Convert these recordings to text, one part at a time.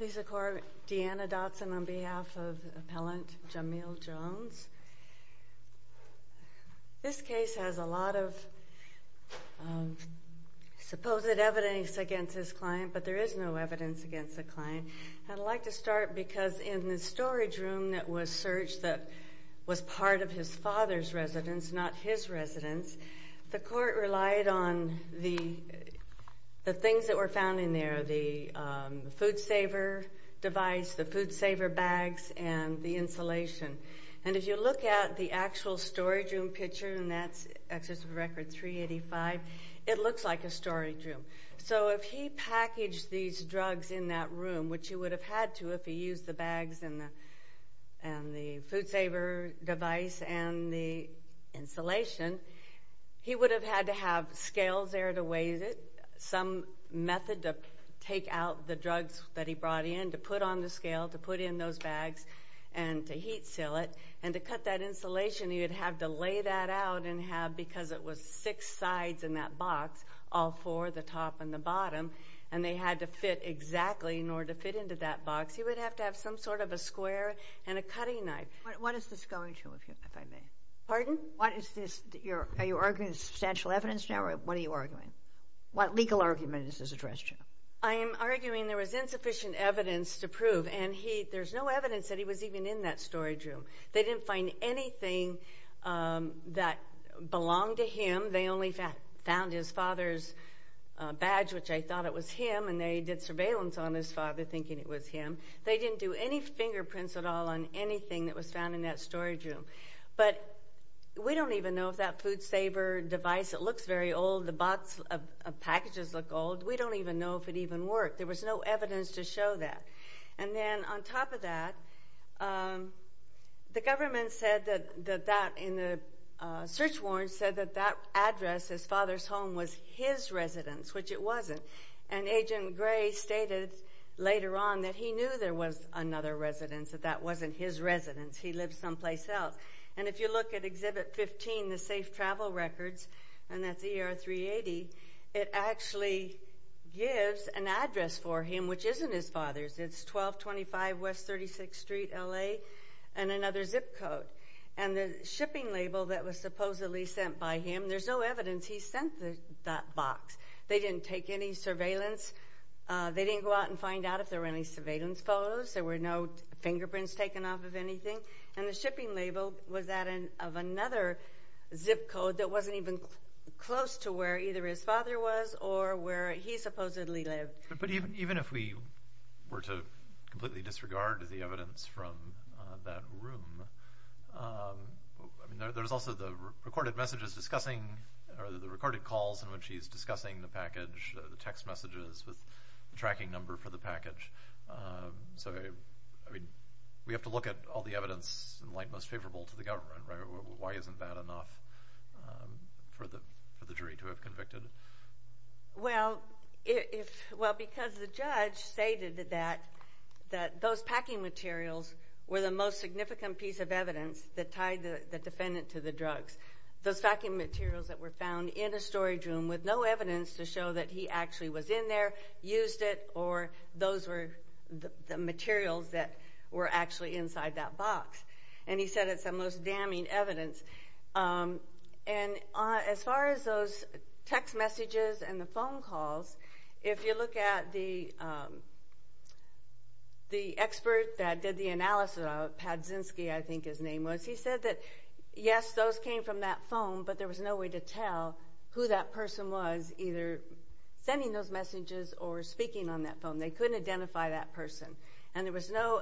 This case has a lot of supposed evidence against this client, but there is no evidence against the client. I'd like to start because in the storage room that was searched that was part of his father's residence, not his residence, the court relied on the things that were found in there, the food saver device, the food saver bags, and the insulation. And if you look at the actual storage room picture, and that's records 385, it looks like a storage room. So if he packaged these drugs in that room, which he would have had to if he used the bags and the food saver device and the insulation, he would have had to have scales there to weigh it, some method to take out the drugs that he brought in, to put on the scale, to put in those bags, and to heat seal it. And to cut that insulation, he would have to lay that out and have, because it was six sides in that box, all four, the top and the bottom, some sort of a square and a cutting knife. What is this going to, if I may? Pardon? What is this? Are you arguing substantial evidence now, or what are you arguing? What legal argument is this addressed to? I am arguing there was insufficient evidence to prove, and there's no evidence that he was even in that storage room. They didn't find anything that belonged to him. They only found his father's badge, which I thought it was him, and they did surveillance on his father, thinking it was him. They didn't do any fingerprints at all on anything that was found in that storage room. But we don't even know if that food saver device, it looks very old, the box of packages look old. We don't even know if it even worked. There was no evidence to show that. And then on top of that, the government said that, in the search warrants, said that that later on that he knew there was another residence, that that wasn't his residence. He lived someplace else. And if you look at Exhibit 15, the safe travel records, and that's ER 380, it actually gives an address for him which isn't his father's. It's 1225 West 36th Street, LA, and another zip code. And the shipping label that was supposedly sent by him, there's no evidence he sent that box. They didn't take any surveillance. They didn't go out and find out if there were any surveillance photos. There were no fingerprints taken off of anything. And the shipping label was that of another zip code that wasn't even close to where either his father was or where he supposedly lived. But even if we were to completely disregard the evidence from that room, there's also the recorded messages discussing, or the recorded calls in which he's discussing the package, the text messages with the tracking number for the package. So, I mean, we have to look at all the evidence in light most favorable to the government, right? Why isn't that enough for the jury to have convicted? Well, because the judge stated that those packing materials were the most significant piece of evidence that tied the defendant to the drugs. Those packing materials that were found in a storage room with no evidence to show that he actually was in there, used it, or those were the materials that were actually inside that box. And he said it's the most damning evidence. And as far as those text messages and the phone calls, if you look at the expert that did the analysis of, Padzinski, I think his name was, he said that, yes, those came from that phone, but there was no way to tell who that person was either sending those messages or speaking on that phone. They couldn't identify that person. And there was no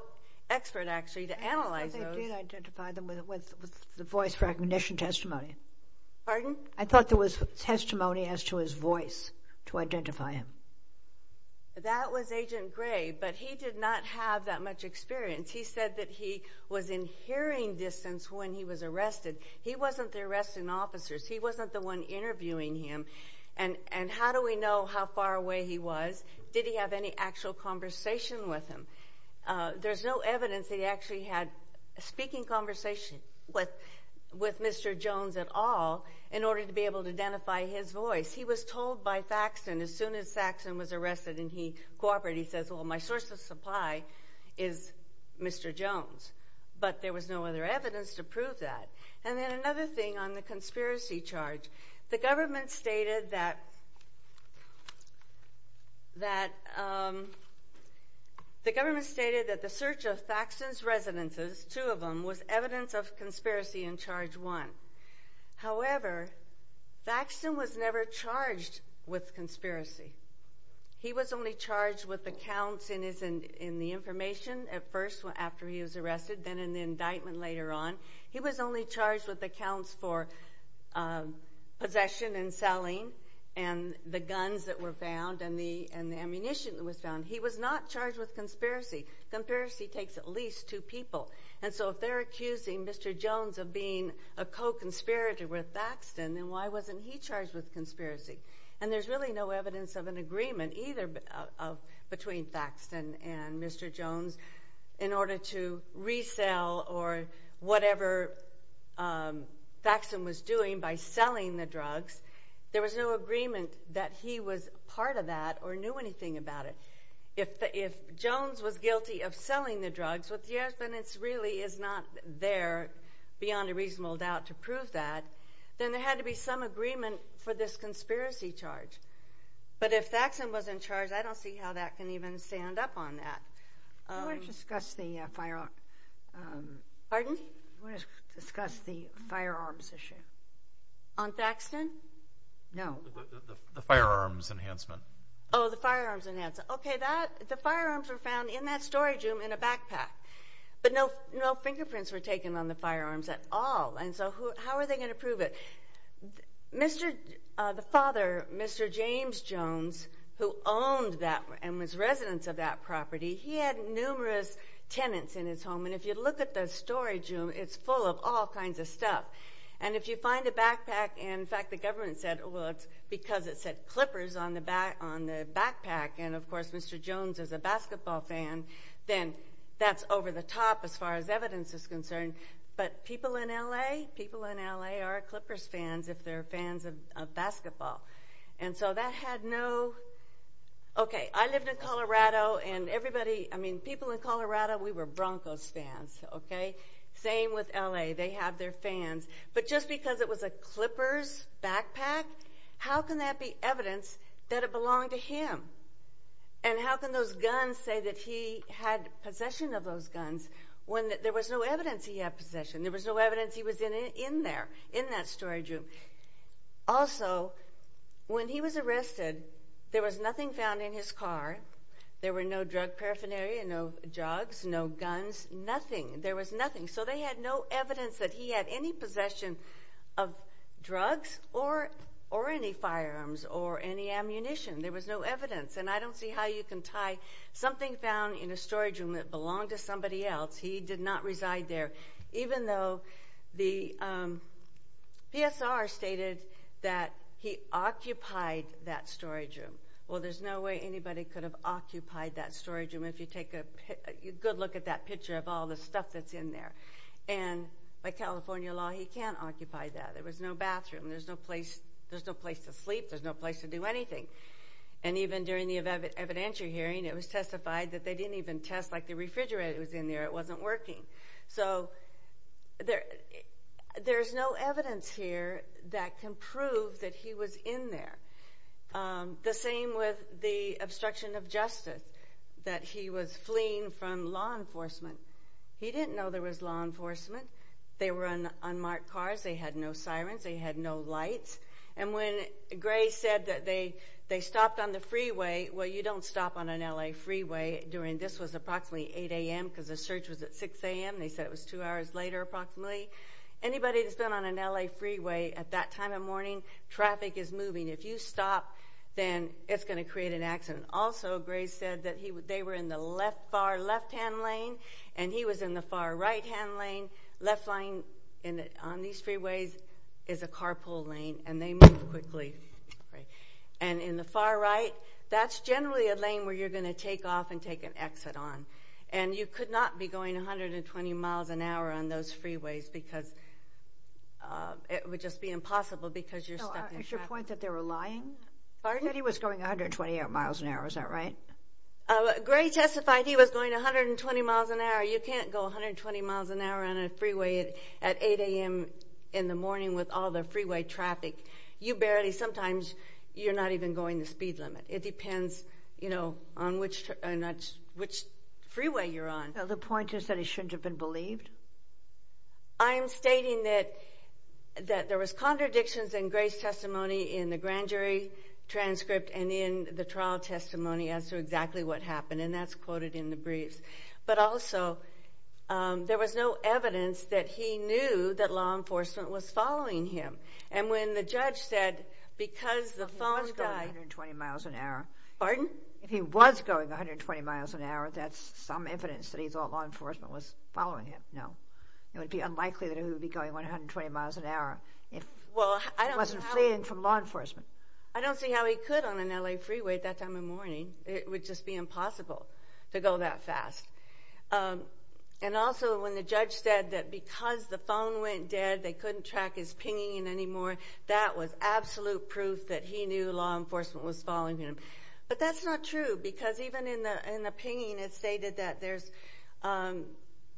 expert, actually, to analyze those. I thought they did identify them with the voice recognition testimony. Pardon? I thought there was testimony as to his voice to identify him. That was Agent Gray, but he did not have that much experience. He said that he was in hearing distance when he was arrested. He wasn't the arresting officers. He wasn't the one interviewing him. And how do we know how far away he was? Did he have any actual conversation with him? There's no evidence that he actually had a speaking conversation with Mr. Jones at all in order to be able to identify his voice. He was told by Saxton, as soon as Saxton was arrested and he cooperated, he says, well, my source of supply is Mr. Jones. But there was no other evidence to prove that. And then another thing on the conspiracy charge. The government stated that the search of Saxton's residences, two of them, was evidence of conspiracy in charge one. However, Saxton was never charged with conspiracy. He was only charged with the counts in the information at first after he was arrested, then in the indictment later on. He was only charged with the counts for possession and selling, and the guns that were found, and the ammunition that was found. He was not charged with conspiracy. Conspiracy takes at least two people. And so if they're accusing Mr. Jones of being a co-conspirator with Saxton, then why wasn't he charged with conspiracy? And there's really no evidence of an agreement either between Saxton and Mr. Jones in order to resell or whatever Saxton was doing by selling the drugs. There was no agreement that he was part of that or knew anything about it. If Jones was guilty of selling the drugs, then it really is not there, beyond a reasonable doubt, to prove that. Then there had to be some agreement for this conspiracy charge. But if Saxton was in charge, I don't see how that can even stand up on that. You want to discuss the firearms? Pardon? You want to discuss the firearms issue? On Saxton? No. The firearms enhancement. Oh, the firearms enhancement. Okay, the firearms were found in that storage room in a backpack, but no fingerprints were taken on the firearms at all. And so how are they going to prove it? The father, Mr. James Jones, who owned that and was resident of that property, he had numerous tenants in his home. And if you look at the storage room, it's full of all kinds of stuff. And if you find a backpack, and in fact the government said, well, it's because it said Clippers on the backpack, and of course Mr. Jones is a basketball fan, then that's over the top as far as evidence is concerned. But people in L.A., people in L.A. are Clippers fans if they're fans of basketball. And so that had no, okay, I lived in Colorado and everybody, I mean people in Colorado, we were Broncos fans, okay? Same with L.A., they have their fans. But just because it was a Clippers backpack, how can that be evidence that it belonged to him? And how can those guns say that he had possession of those guns when there was no evidence he had possession? There was no evidence he was in there, in that storage room. Also, when he was arrested, there was nothing found in his car. There were no drug paraphernalia, no drugs, no guns, nothing. There was nothing. So they had no evidence that he had any possession of drugs or any firearms or any ammunition. There was no evidence. And I don't see how you can tie something found in a storage room that belonged to somebody else, he did not reside there, even though the PSR stated that he occupied that storage room. Well, there's no way anybody could have occupied that storage room if you take a good look at that picture of all the stuff that's in there. And by California law, he can't occupy that. There was no bathroom, there's no place to sleep, there's no place to do anything. And even during the evidentiary hearing, it was testified that they didn't even test like the refrigerator was in there, it wasn't working. So there's no evidence here that can prove that he was in there. The same with the obstruction of justice, that he was fleeing from law enforcement. He didn't know there was law enforcement. They were on unmarked cars, they had no sirens, they had no lights. And when Gray said that they stopped on the freeway, well you don't stop on an L.A. freeway during, this was approximately 8 a.m. because the search was at 6 a.m., they said it was two hours later approximately. Anybody that's been on an L.A. freeway at that time of morning, traffic is moving. If you stop, then it's going to create an accident. Also Gray said that they were in the far left-hand lane and he was in the far right-hand lane. Left lane on these freeways is a carpool lane and they move quickly. And in the far right, that's generally a lane where you're going to take off and take an exit on. And you could not be going 120 miles an hour on those freeways because it would just be impossible because you're stuck in traffic. Is your point that they were lying? Pardon? That he was going 120 miles an hour, is that right? Gray testified he was going 120 miles an hour. You can't go 120 miles an hour on a freeway at 8 a.m. in the morning with all the freeway traffic. You barely, sometimes you're not even going the speed limit. It depends, you know, on which freeway you're on. The point is that it shouldn't have been believed? I'm stating that there was contradictions in Gray's testimony in the grand jury transcript and in the trial testimony as to exactly what happened and that's quoted in the briefs. But also, there was no evidence that he knew that law enforcement was following him. And when the judge said, because the phones died... He was going 120 miles an hour. Pardon? If he was going 120 miles an hour, that's some evidence that he thought law enforcement was following him. No. It would be unlikely that he would be going 120 miles an hour if he wasn't fleeing from law enforcement. I don't see how he could on an L.A. freeway at that time of morning. It would just be impossible to go that fast. And also, when the judge said that because the phone went dead, they couldn't track his pinging anymore, that was absolute proof that he knew law enforcement was following him. But that's not true because even in the pinging, it stated that there's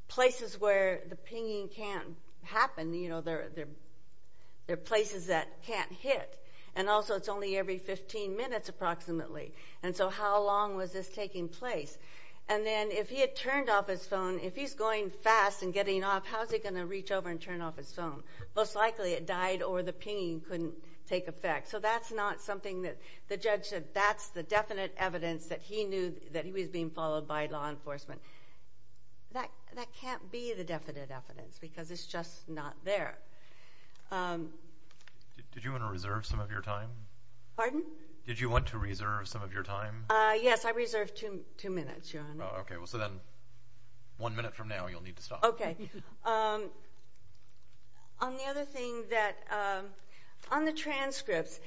places where the pinging can't happen. There are places that can't hit. And also, it's only every 15 minutes approximately. And so, how long was this taking place? And then, if he had turned off his phone, if he's going fast and getting off, how's he going to reach over and turn off his phone? Most likely, it died or the pinging couldn't take effect. So that's not something that the judge said, that's the definite evidence that he knew that he was being followed by law enforcement. That can't be the definite evidence because it's just not there. Did you want to reserve some of your time? Pardon? Did you want to reserve some of your time? Yes, I reserved two minutes, Your Honor. Okay, so then one minute from now, you'll need to stop. Okay. On the other thing that, on the transcripts,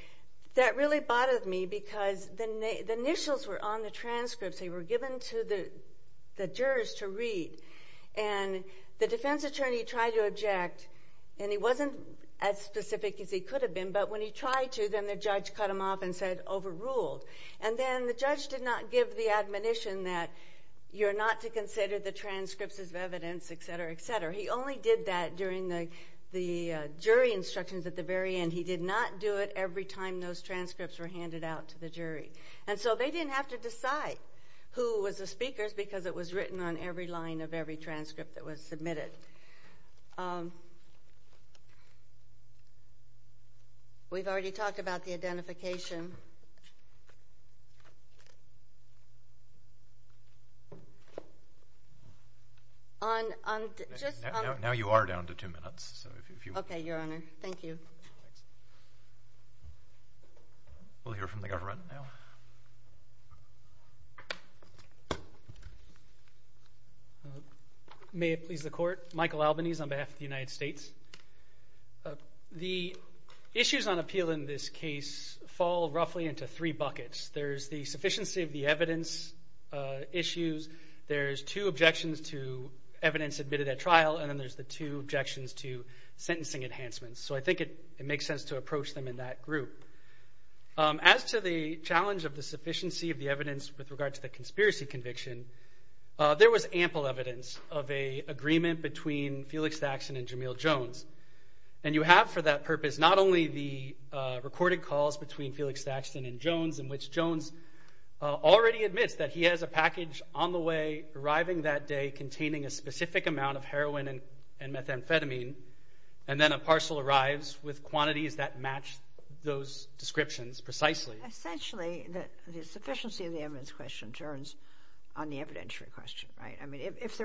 that really bothered me because the initials were on the transcripts. They were given to the jurors to read. And the defense attorney tried to object, and he wasn't as specific as he could have been, but when he tried to, then the judge cut him off and said, overruled. And then the judge did not give the admonition that you're not to consider the transcripts as evidence, et cetera, et cetera. He only did that during the jury instructions at the very end. He did not do it every time those to decide who was the speakers because it was written on every line of every transcript that was submitted. We've already talked about the identification. Now you are down to two minutes, so if you want to... Okay, Your Honor. Thank you. We'll hear from the government now. May it please the Court. Michael Albanese on behalf of the United States. The issues on appeal in this case fall roughly into three buckets. There's the sufficiency of the evidence issues, there's two objections to evidence admitted at trial, and then there's the two objections to sentencing enhancements. So I think it makes sense to approach them in that group. As to the challenge of the sufficiency of the evidence with regard to the conspiracy conviction, there was ample evidence of a agreement between Felix Daxson and Jamil Jones. And you have for that purpose not only the recorded calls between Felix Daxson and Jones in which Jones already admits that he has a package on the way arriving that day containing a specific amount of heroin and methamphetamine, and then a parcel arrives with quantities that match those descriptions precisely. Essentially, the sufficiency of the evidence question turns on the evidentiary question, right? I mean, if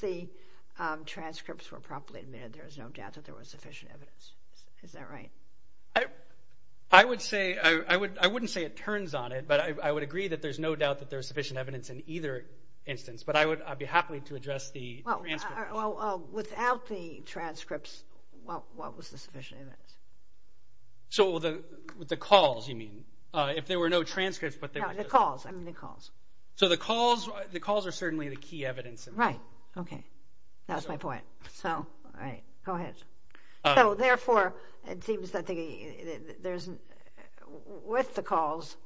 the transcripts were properly admitted, there's no doubt that there was sufficient evidence. Is that right? I would say... I wouldn't say it turns on it, but I would agree that there's no doubt that there's sufficient evidence in either instance. But I would be happy to address the transcripts. Without the transcripts, what was the sufficient evidence? So with the calls, you mean? If there were no transcripts, but there was... No, the calls. I mean the calls. So the calls are certainly the key evidence. Right. Okay. That was my point. So, all right. Go ahead. So therefore, it seems that there's sufficient... With the calls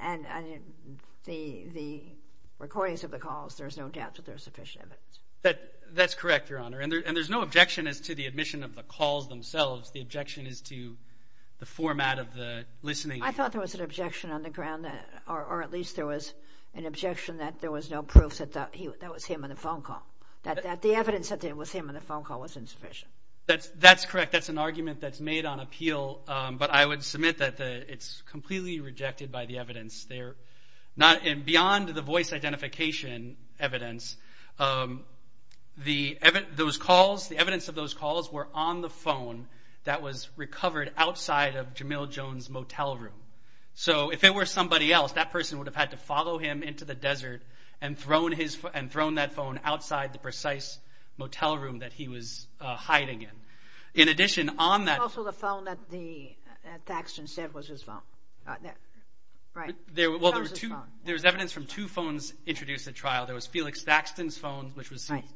and the recordings of the calls, there's no doubt that there's sufficient evidence. That's correct, Your Honor. And there's no objection as to the admission of the calls themselves. The objection is to the format of the listening. I thought there was an objection on the ground, or at least there was an objection that there was no proof that that was him on the phone call. That the evidence that it was him on the phone call was insufficient. That's correct. That's an argument that's made on appeal. But I would submit that it's completely rejected by the evidence. Beyond the voice identification evidence, the evidence of those calls were on the phone that was recovered outside of Jamil Jones' motel room. So if it were somebody else, that person would've had to follow him into the desert and thrown that phone outside the precise motel room that he was hiding in. In addition, on that... Also, the phone that Thaxton said was his phone. Right. Well, there was evidence from two phones introduced at trial. There was Felix Thaxton's phone, which was seized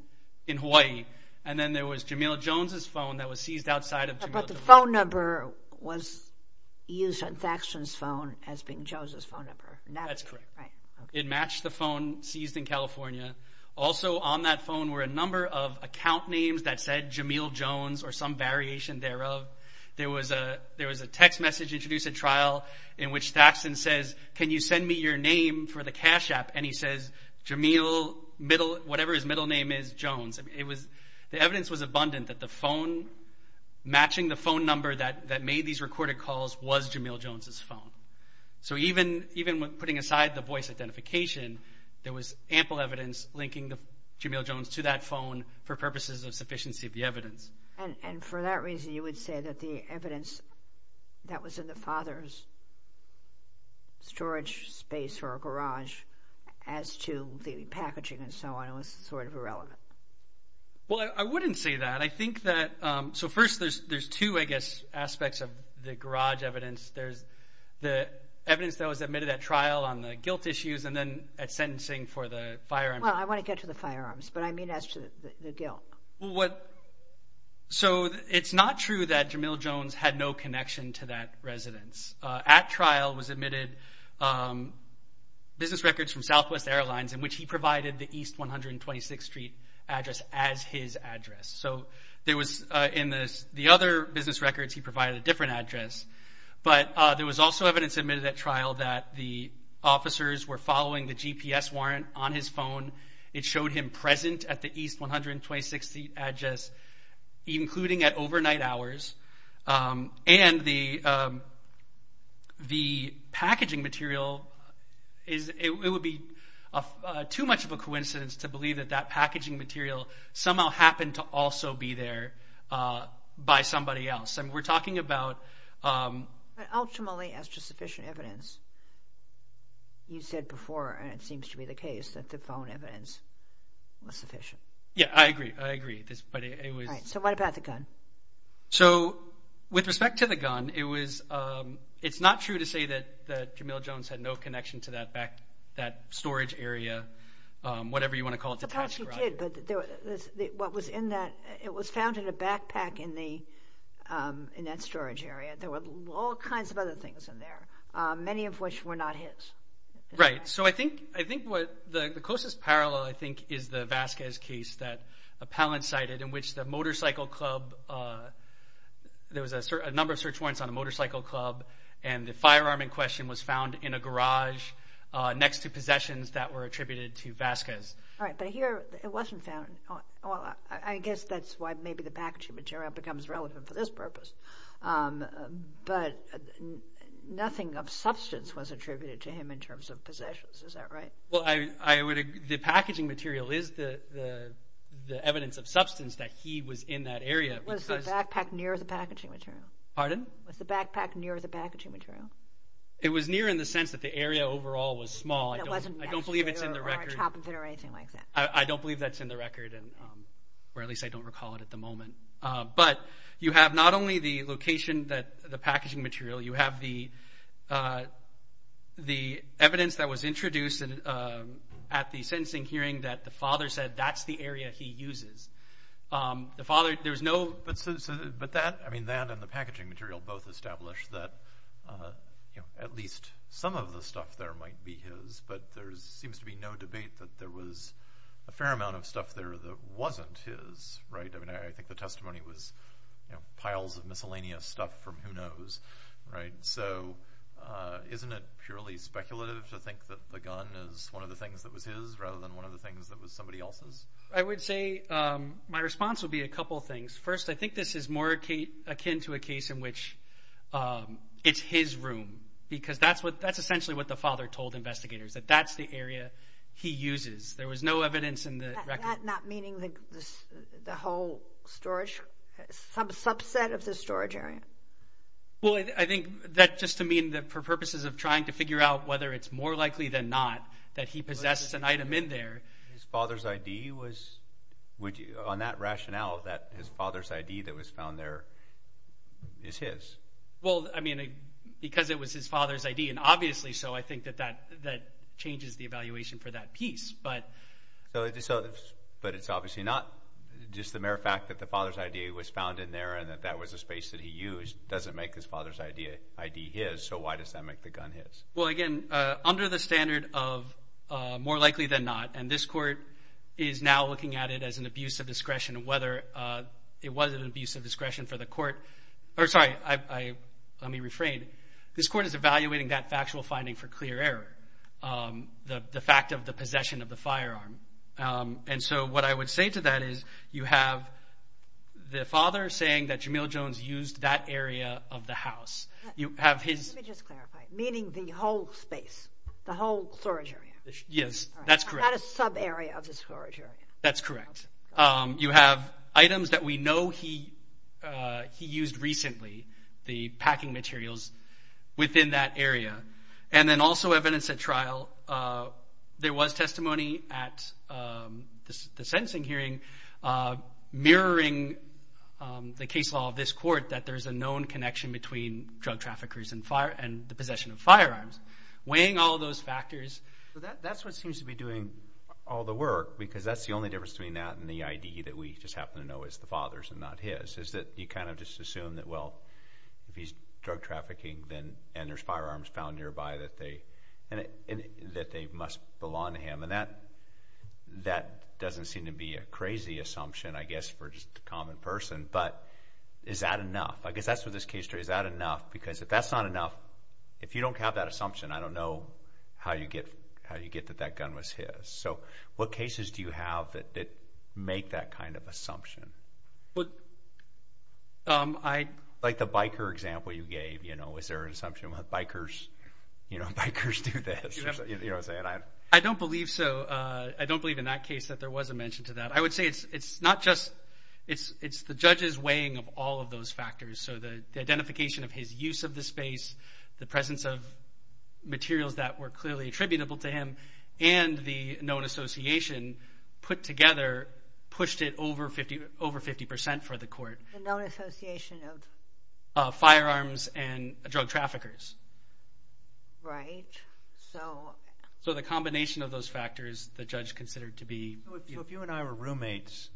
in Hawaii. And then there was Jamil Jones' phone that was seized outside of Jamil... But the phone number was used on Thaxton's phone as being Jones' phone number. That's correct. It matched the phone seized in California. Also, on that phone were a number of account names that said Jamil Jones or some variation thereof. There was a text message introduced at trial in which Thaxton says, can you send me your name for the cash app? And he says, Jamil, whatever his middle name is, Jones. The evidence was abundant that the phone matching the phone number that made these recorded calls was Jamil Jones' phone. So even when putting aside the voice identification, there was ample evidence linking the Jamil Jones to that phone for purposes of sufficiency of the evidence. And for that reason, you would say that the evidence that was in the father's storage space or garage as to the packaging and so on was sort of irrelevant. Well, I wouldn't say that. I think that... So first, there's two, I guess, aspects of the garage evidence. There's the evidence that was admitted at trial on the guilt issues and then at sentencing for the firearms. Well, I want to get to the firearms, but I mean as to the guilt. So it's not true that Jamil Jones had no connection to that residence. At trial was admitted business records from Southwest Airlines in which he provided the East 126th Street address as his address. So in the other business records, he provided a different address. But there was also evidence admitted at trial that the officers were following the GPS warrant on his phone. It showed him present at the East 126th Street address, including at overnight hours. And the packaging material, it would be too much of a coincidence to believe that packaging material somehow happened to also be there by somebody else. And we're talking about... But ultimately, as to sufficient evidence, you said before, and it seems to be the case, that the phone evidence was sufficient. Yeah, I agree. I agree. But it was... Right. So what about the gun? So with respect to the gun, it's not true to say that Jamil Jones had no connection to that storage area, whatever you want to call it, detached garage. Of course you did, but what was in that... It was found in a backpack in that storage area. There were all kinds of other things in there, many of which were not his. Right. So I think what... The closest parallel, I think, is the Vasquez case that Palin cited, in which the motorcycle club... There was a number of search warrants on a motorcycle club, and the firearm in question was found in a garage next to possessions that were attributed to Vasquez. Right. But here, it wasn't found. I guess that's why maybe the packaging material becomes relevant for this purpose. But nothing of substance was attributed to him in terms of possessions. Is that right? Well, I would... The packaging material is the evidence of substance that he was in that area because... Was the backpack near the packaging material? Pardon? Was the backpack near the packaging material? It was near in the sense that the area overall was small. It wasn't... I don't believe it's in the record. Or a chop of it or anything like that. I don't believe that's in the record, or at least I don't recall it at the moment. But you have not only the location, the packaging material, you have the evidence that was introduced at the sentencing hearing that the father said that's the area he uses. The father... There's no... But that... I mean, that and the packaging material both establish that at least some of the stuff there might be his, but there seems to be no debate that there was a fair amount of stuff there that wasn't his. Right? I mean, I think the testimony was piles of miscellaneous stuff from who knows. Right? So, isn't it purely speculative to think that the gun is one of the things that was his rather than one of the things that was somebody else's? I would say my response would be a couple of things. First, I think this is more akin to a case in which it's his room because that's essentially what the father told investigators, that that's the area he uses. There was no evidence in the record. That not meaning the whole storage... Some subset of the storage area? Well, I think that just to mean that for purposes of trying to figure out whether it's more on that rationale that his father's ID that was found there is his. Well, I mean, because it was his father's ID, and obviously so, I think that that changes the evaluation for that piece. But it's obviously not just the mere fact that the father's ID was found in there and that that was a space that he used doesn't make his father's ID his, so why does that make the gun his? Well, again, under the standard of more likely than not, and this court is now looking at it as an abuse of discretion whether it was an abuse of discretion for the court. Sorry, let me refrain. This court is evaluating that factual finding for clear error, the fact of the possession of the firearm. And so what I would say to that is you have the father saying that Jamil Jones used that area of the house. Let me just clarify, meaning the whole space, the whole storage area? Yes, that's correct. Not a sub area of the storage area. That's correct. You have items that we know he used recently, the packing materials within that area. And then also evidence at trial. There was testimony at the sentencing hearing mirroring the case law of this court that there's a known connection between drug traffickers and the possession of firearms. Weighing all those factors. So that's what seems to be doing all the work, because that's the only difference between that and the ID that we just happen to know is the father's and not his, is that you kind of just assume that, well, if he's drug trafficking and there's firearms found nearby that they must belong to him. And that doesn't seem to be a crazy assumption, I guess, for just a common person, but is that enough? I guess that's what this case, is that enough? Because if that's not enough, if you don't have that assumption, I don't know how you get that that gun was his. So what cases do you have that make that kind of assumption? Like the biker example you gave, is there an assumption that bikers do this? I don't believe so. I don't believe in that case that there was a mention to that. I would say it's not just, it's the judge's weighing of all of those factors. So the identification of his use of the space, the presence of materials that were clearly attributable to him, and the known association put together pushed it over 50% for the court. The known association of? Firearms and drug traffickers. Right. So the combination of those factors the judge considered to be. So if you and I were roommates,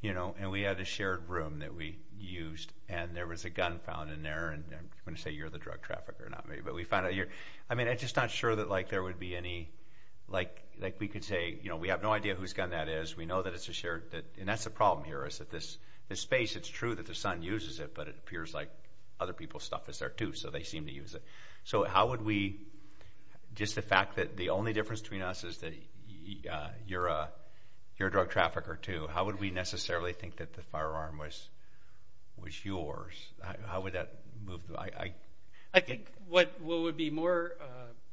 you know, and we had a shared room that we used, and there was a gun found in there, and I'm going to say you're the drug trafficker, not me, but we found out you're. I mean, I'm just not sure that like there would be any, like we could say, you know, we have no idea whose gun that is. We know that it's a shared, and that's the problem here, is that this space, it's true that the son uses it, but it appears like other people's stuff is there too, so they seem to use it. So how would we, just the fact that the only difference between us is that you're a drug trafficker too, how would we necessarily think that the firearm was yours? How would that move? I think what would be more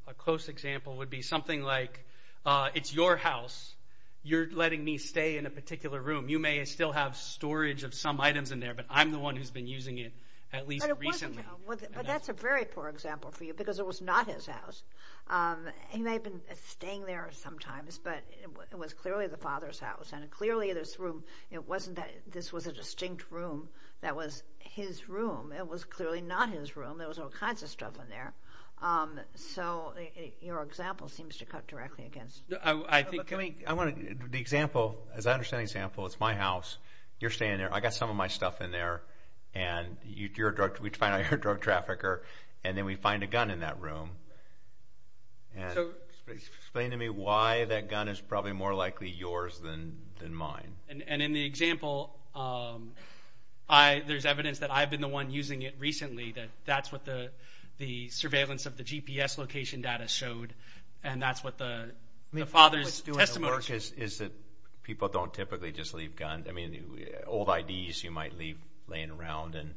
a close example would be something like it's your house, you're letting me stay in a particular room. You may still have storage of some items in there, but I'm the one who's been using it at least recently. But that's a very poor example for you, because it was not his house. He may have been staying there sometimes, but it was clearly the father's house, and clearly this room, it wasn't that this was a distinct room that was his room. It was clearly not his room. There was all kinds of stuff in there. So your example seems to cut directly against. I think, I mean, the example, as I understand the example, it's my house, you're staying there, I got some of my stuff in there, and we find out you're a drug trafficker, and then we find a gun in that room. Explain to me why that gun is probably more likely yours than mine. And in the example, there's evidence that I've been the one using it recently, that that's what the surveillance of the GPS location data showed, and that's what the father's testimony showed. People don't typically just leave guns. I mean, old IDs you might leave laying around, and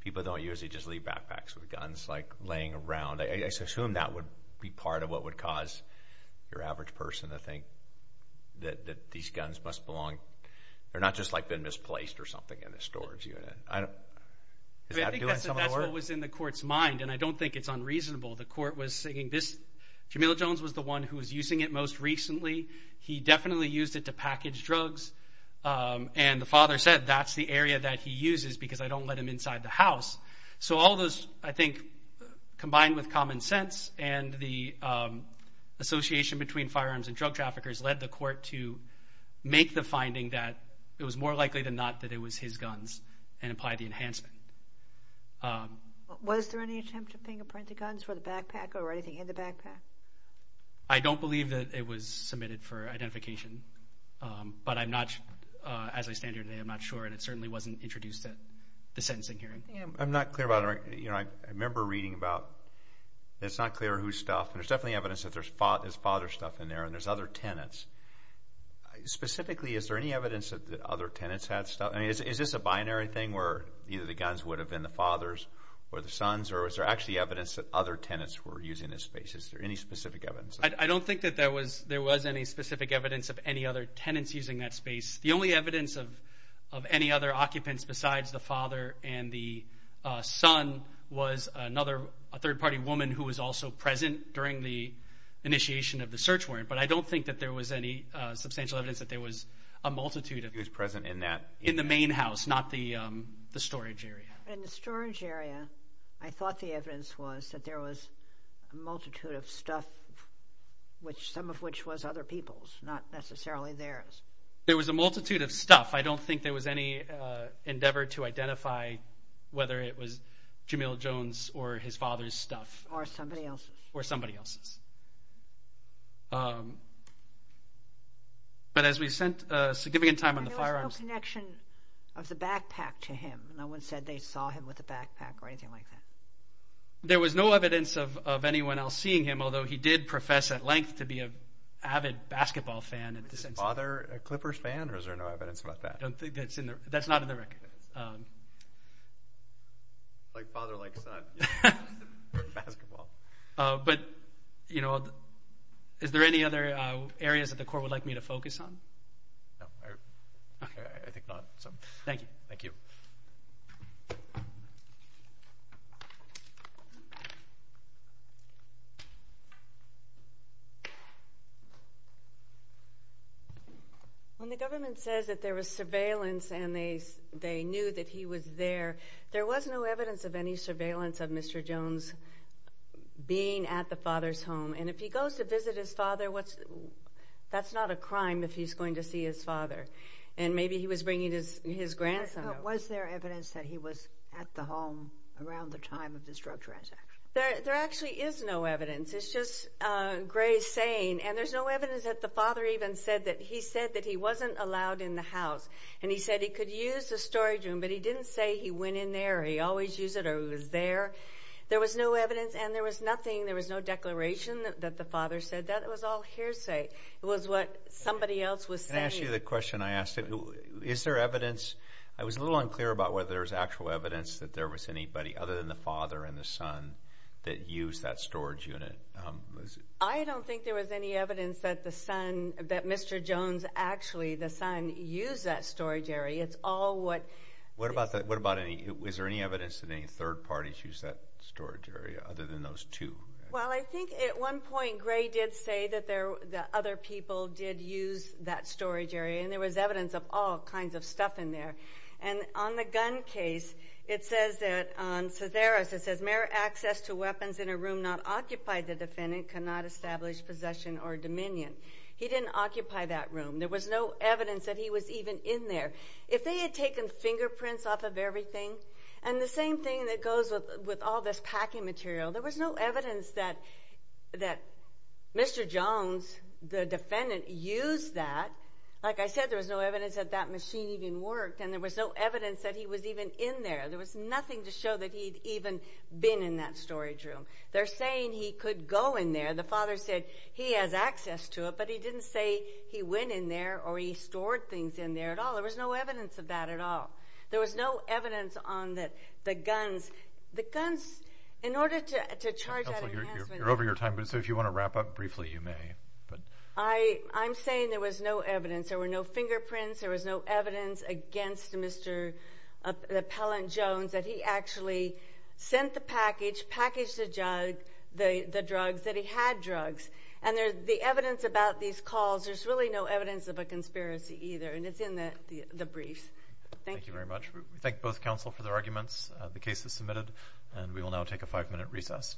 people don't usually just leave backpacks with guns, like laying around. I assume that would be part of what would cause your average person to think that these guns must belong, or not just like been misplaced or something in a storage unit. I think that's what was in the court's mind, and I don't think it's unreasonable. The court was saying this, Camille Jones was the one who was using it most recently. He definitely used it to package drugs, and the father said that's the area that he uses because I don't let him inside the house. So all those, I think, combined with common sense and the association between firearms and drug traffickers led the court to make the finding that it was more likely than not that it was his guns and apply the enhancement. Was there any attempt at fingerprinting guns for the backpack or anything in the backpack? I don't believe that it was submitted for identification, but I'm not, as I stand here today, I'm not sure, and it certainly wasn't introduced at the sentencing hearing. I'm not clear about it. I remember reading about it's not clear whose stuff. There's definitely evidence that there's father's stuff in there and there's other tenants. Specifically, is there any evidence that other tenants had stuff? I mean, is this a binary thing where either the guns would have been the father's or the son's, or is there actually evidence that other tenants were using this space? Is there any specific evidence? I don't think that there was any specific evidence of any other tenants using that space. The only evidence of any other occupants besides the father and the son was a third-party woman who was also present during the initiation of the search warrant, but I don't think that there was any substantial evidence that there was a multitude of people. Who was present in that? In the main house, not the storage area. In the storage area, I thought the evidence was that there was a multitude of stuff, some of which was other people's, not necessarily theirs. There was a multitude of stuff. I don't think there was any endeavor to identify whether it was Jamil Jones or his father's stuff. Or somebody else's. Or somebody else's. But as we spent significant time on the firearms— There was no connection of the backpack to him. No one said they saw him with a backpack or anything like that. There was no evidence of anyone else seeing him, although he did profess at length to be an avid basketball fan. Is his father a Clippers fan, or is there no evidence about that? That's not in the record. Like father, like son for basketball. But, you know, is there any other areas that the court would like me to focus on? No, I think not. So thank you. Thank you. When the government says that there was surveillance and they knew that he was there, there was no evidence of any surveillance of Mr. Jones being at the father's home. And if he goes to visit his father, that's not a crime if he's going to see his father. And maybe he was bringing his grandson. Was there evidence that he was at the home around the time of this drug transaction? There actually is no evidence. It's just Gray's saying. And there's no evidence that the father even said that he said that he wasn't allowed in the house. And he said he could use the storage room, but he didn't say he went in there, or he always used it, or he was there. There was no evidence, and there was nothing. There was no declaration that the father said that. It was all hearsay. It was what somebody else was saying. Let me ask you the question I asked. Is there evidence? I was a little unclear about whether there was actual evidence that there was anybody other than the father and the son that used that storage unit. I don't think there was any evidence that the son, that Mr. Jones, actually the son, used that storage area. It's all what. What about any, is there any evidence that any third parties used that storage area other than those two? Well, I think at one point Gray did say that other people did use that storage area, and there was evidence of all kinds of stuff in there. And on the gun case, it says that on Severus, it says, Mayor, access to weapons in a room not occupied by the defendant cannot establish possession or dominion. He didn't occupy that room. There was no evidence that he was even in there. If they had taken fingerprints off of everything, and the same thing that goes with all this packing material, there was no evidence that Mr. Jones, the defendant, used that. Like I said, there was no evidence that that machine even worked, and there was no evidence that he was even in there. There was nothing to show that he'd even been in that storage room. They're saying he could go in there. The father said he has access to it, but he didn't say he went in there or he stored things in there at all. There was no evidence of that at all. There was no evidence on the guns. The guns, in order to charge that enhancement. You're over your time, so if you want to wrap up briefly, you may. I'm saying there was no evidence. There were no fingerprints. There was no evidence against Mr. Appellant Jones that he actually sent the package, packaged the drugs, that he had drugs. And the evidence about these calls, there's really no evidence of a conspiracy either, and it's in the briefs. Thank you very much. We thank both counsel for their arguments. The case is submitted, and we will now take a five-minute recess.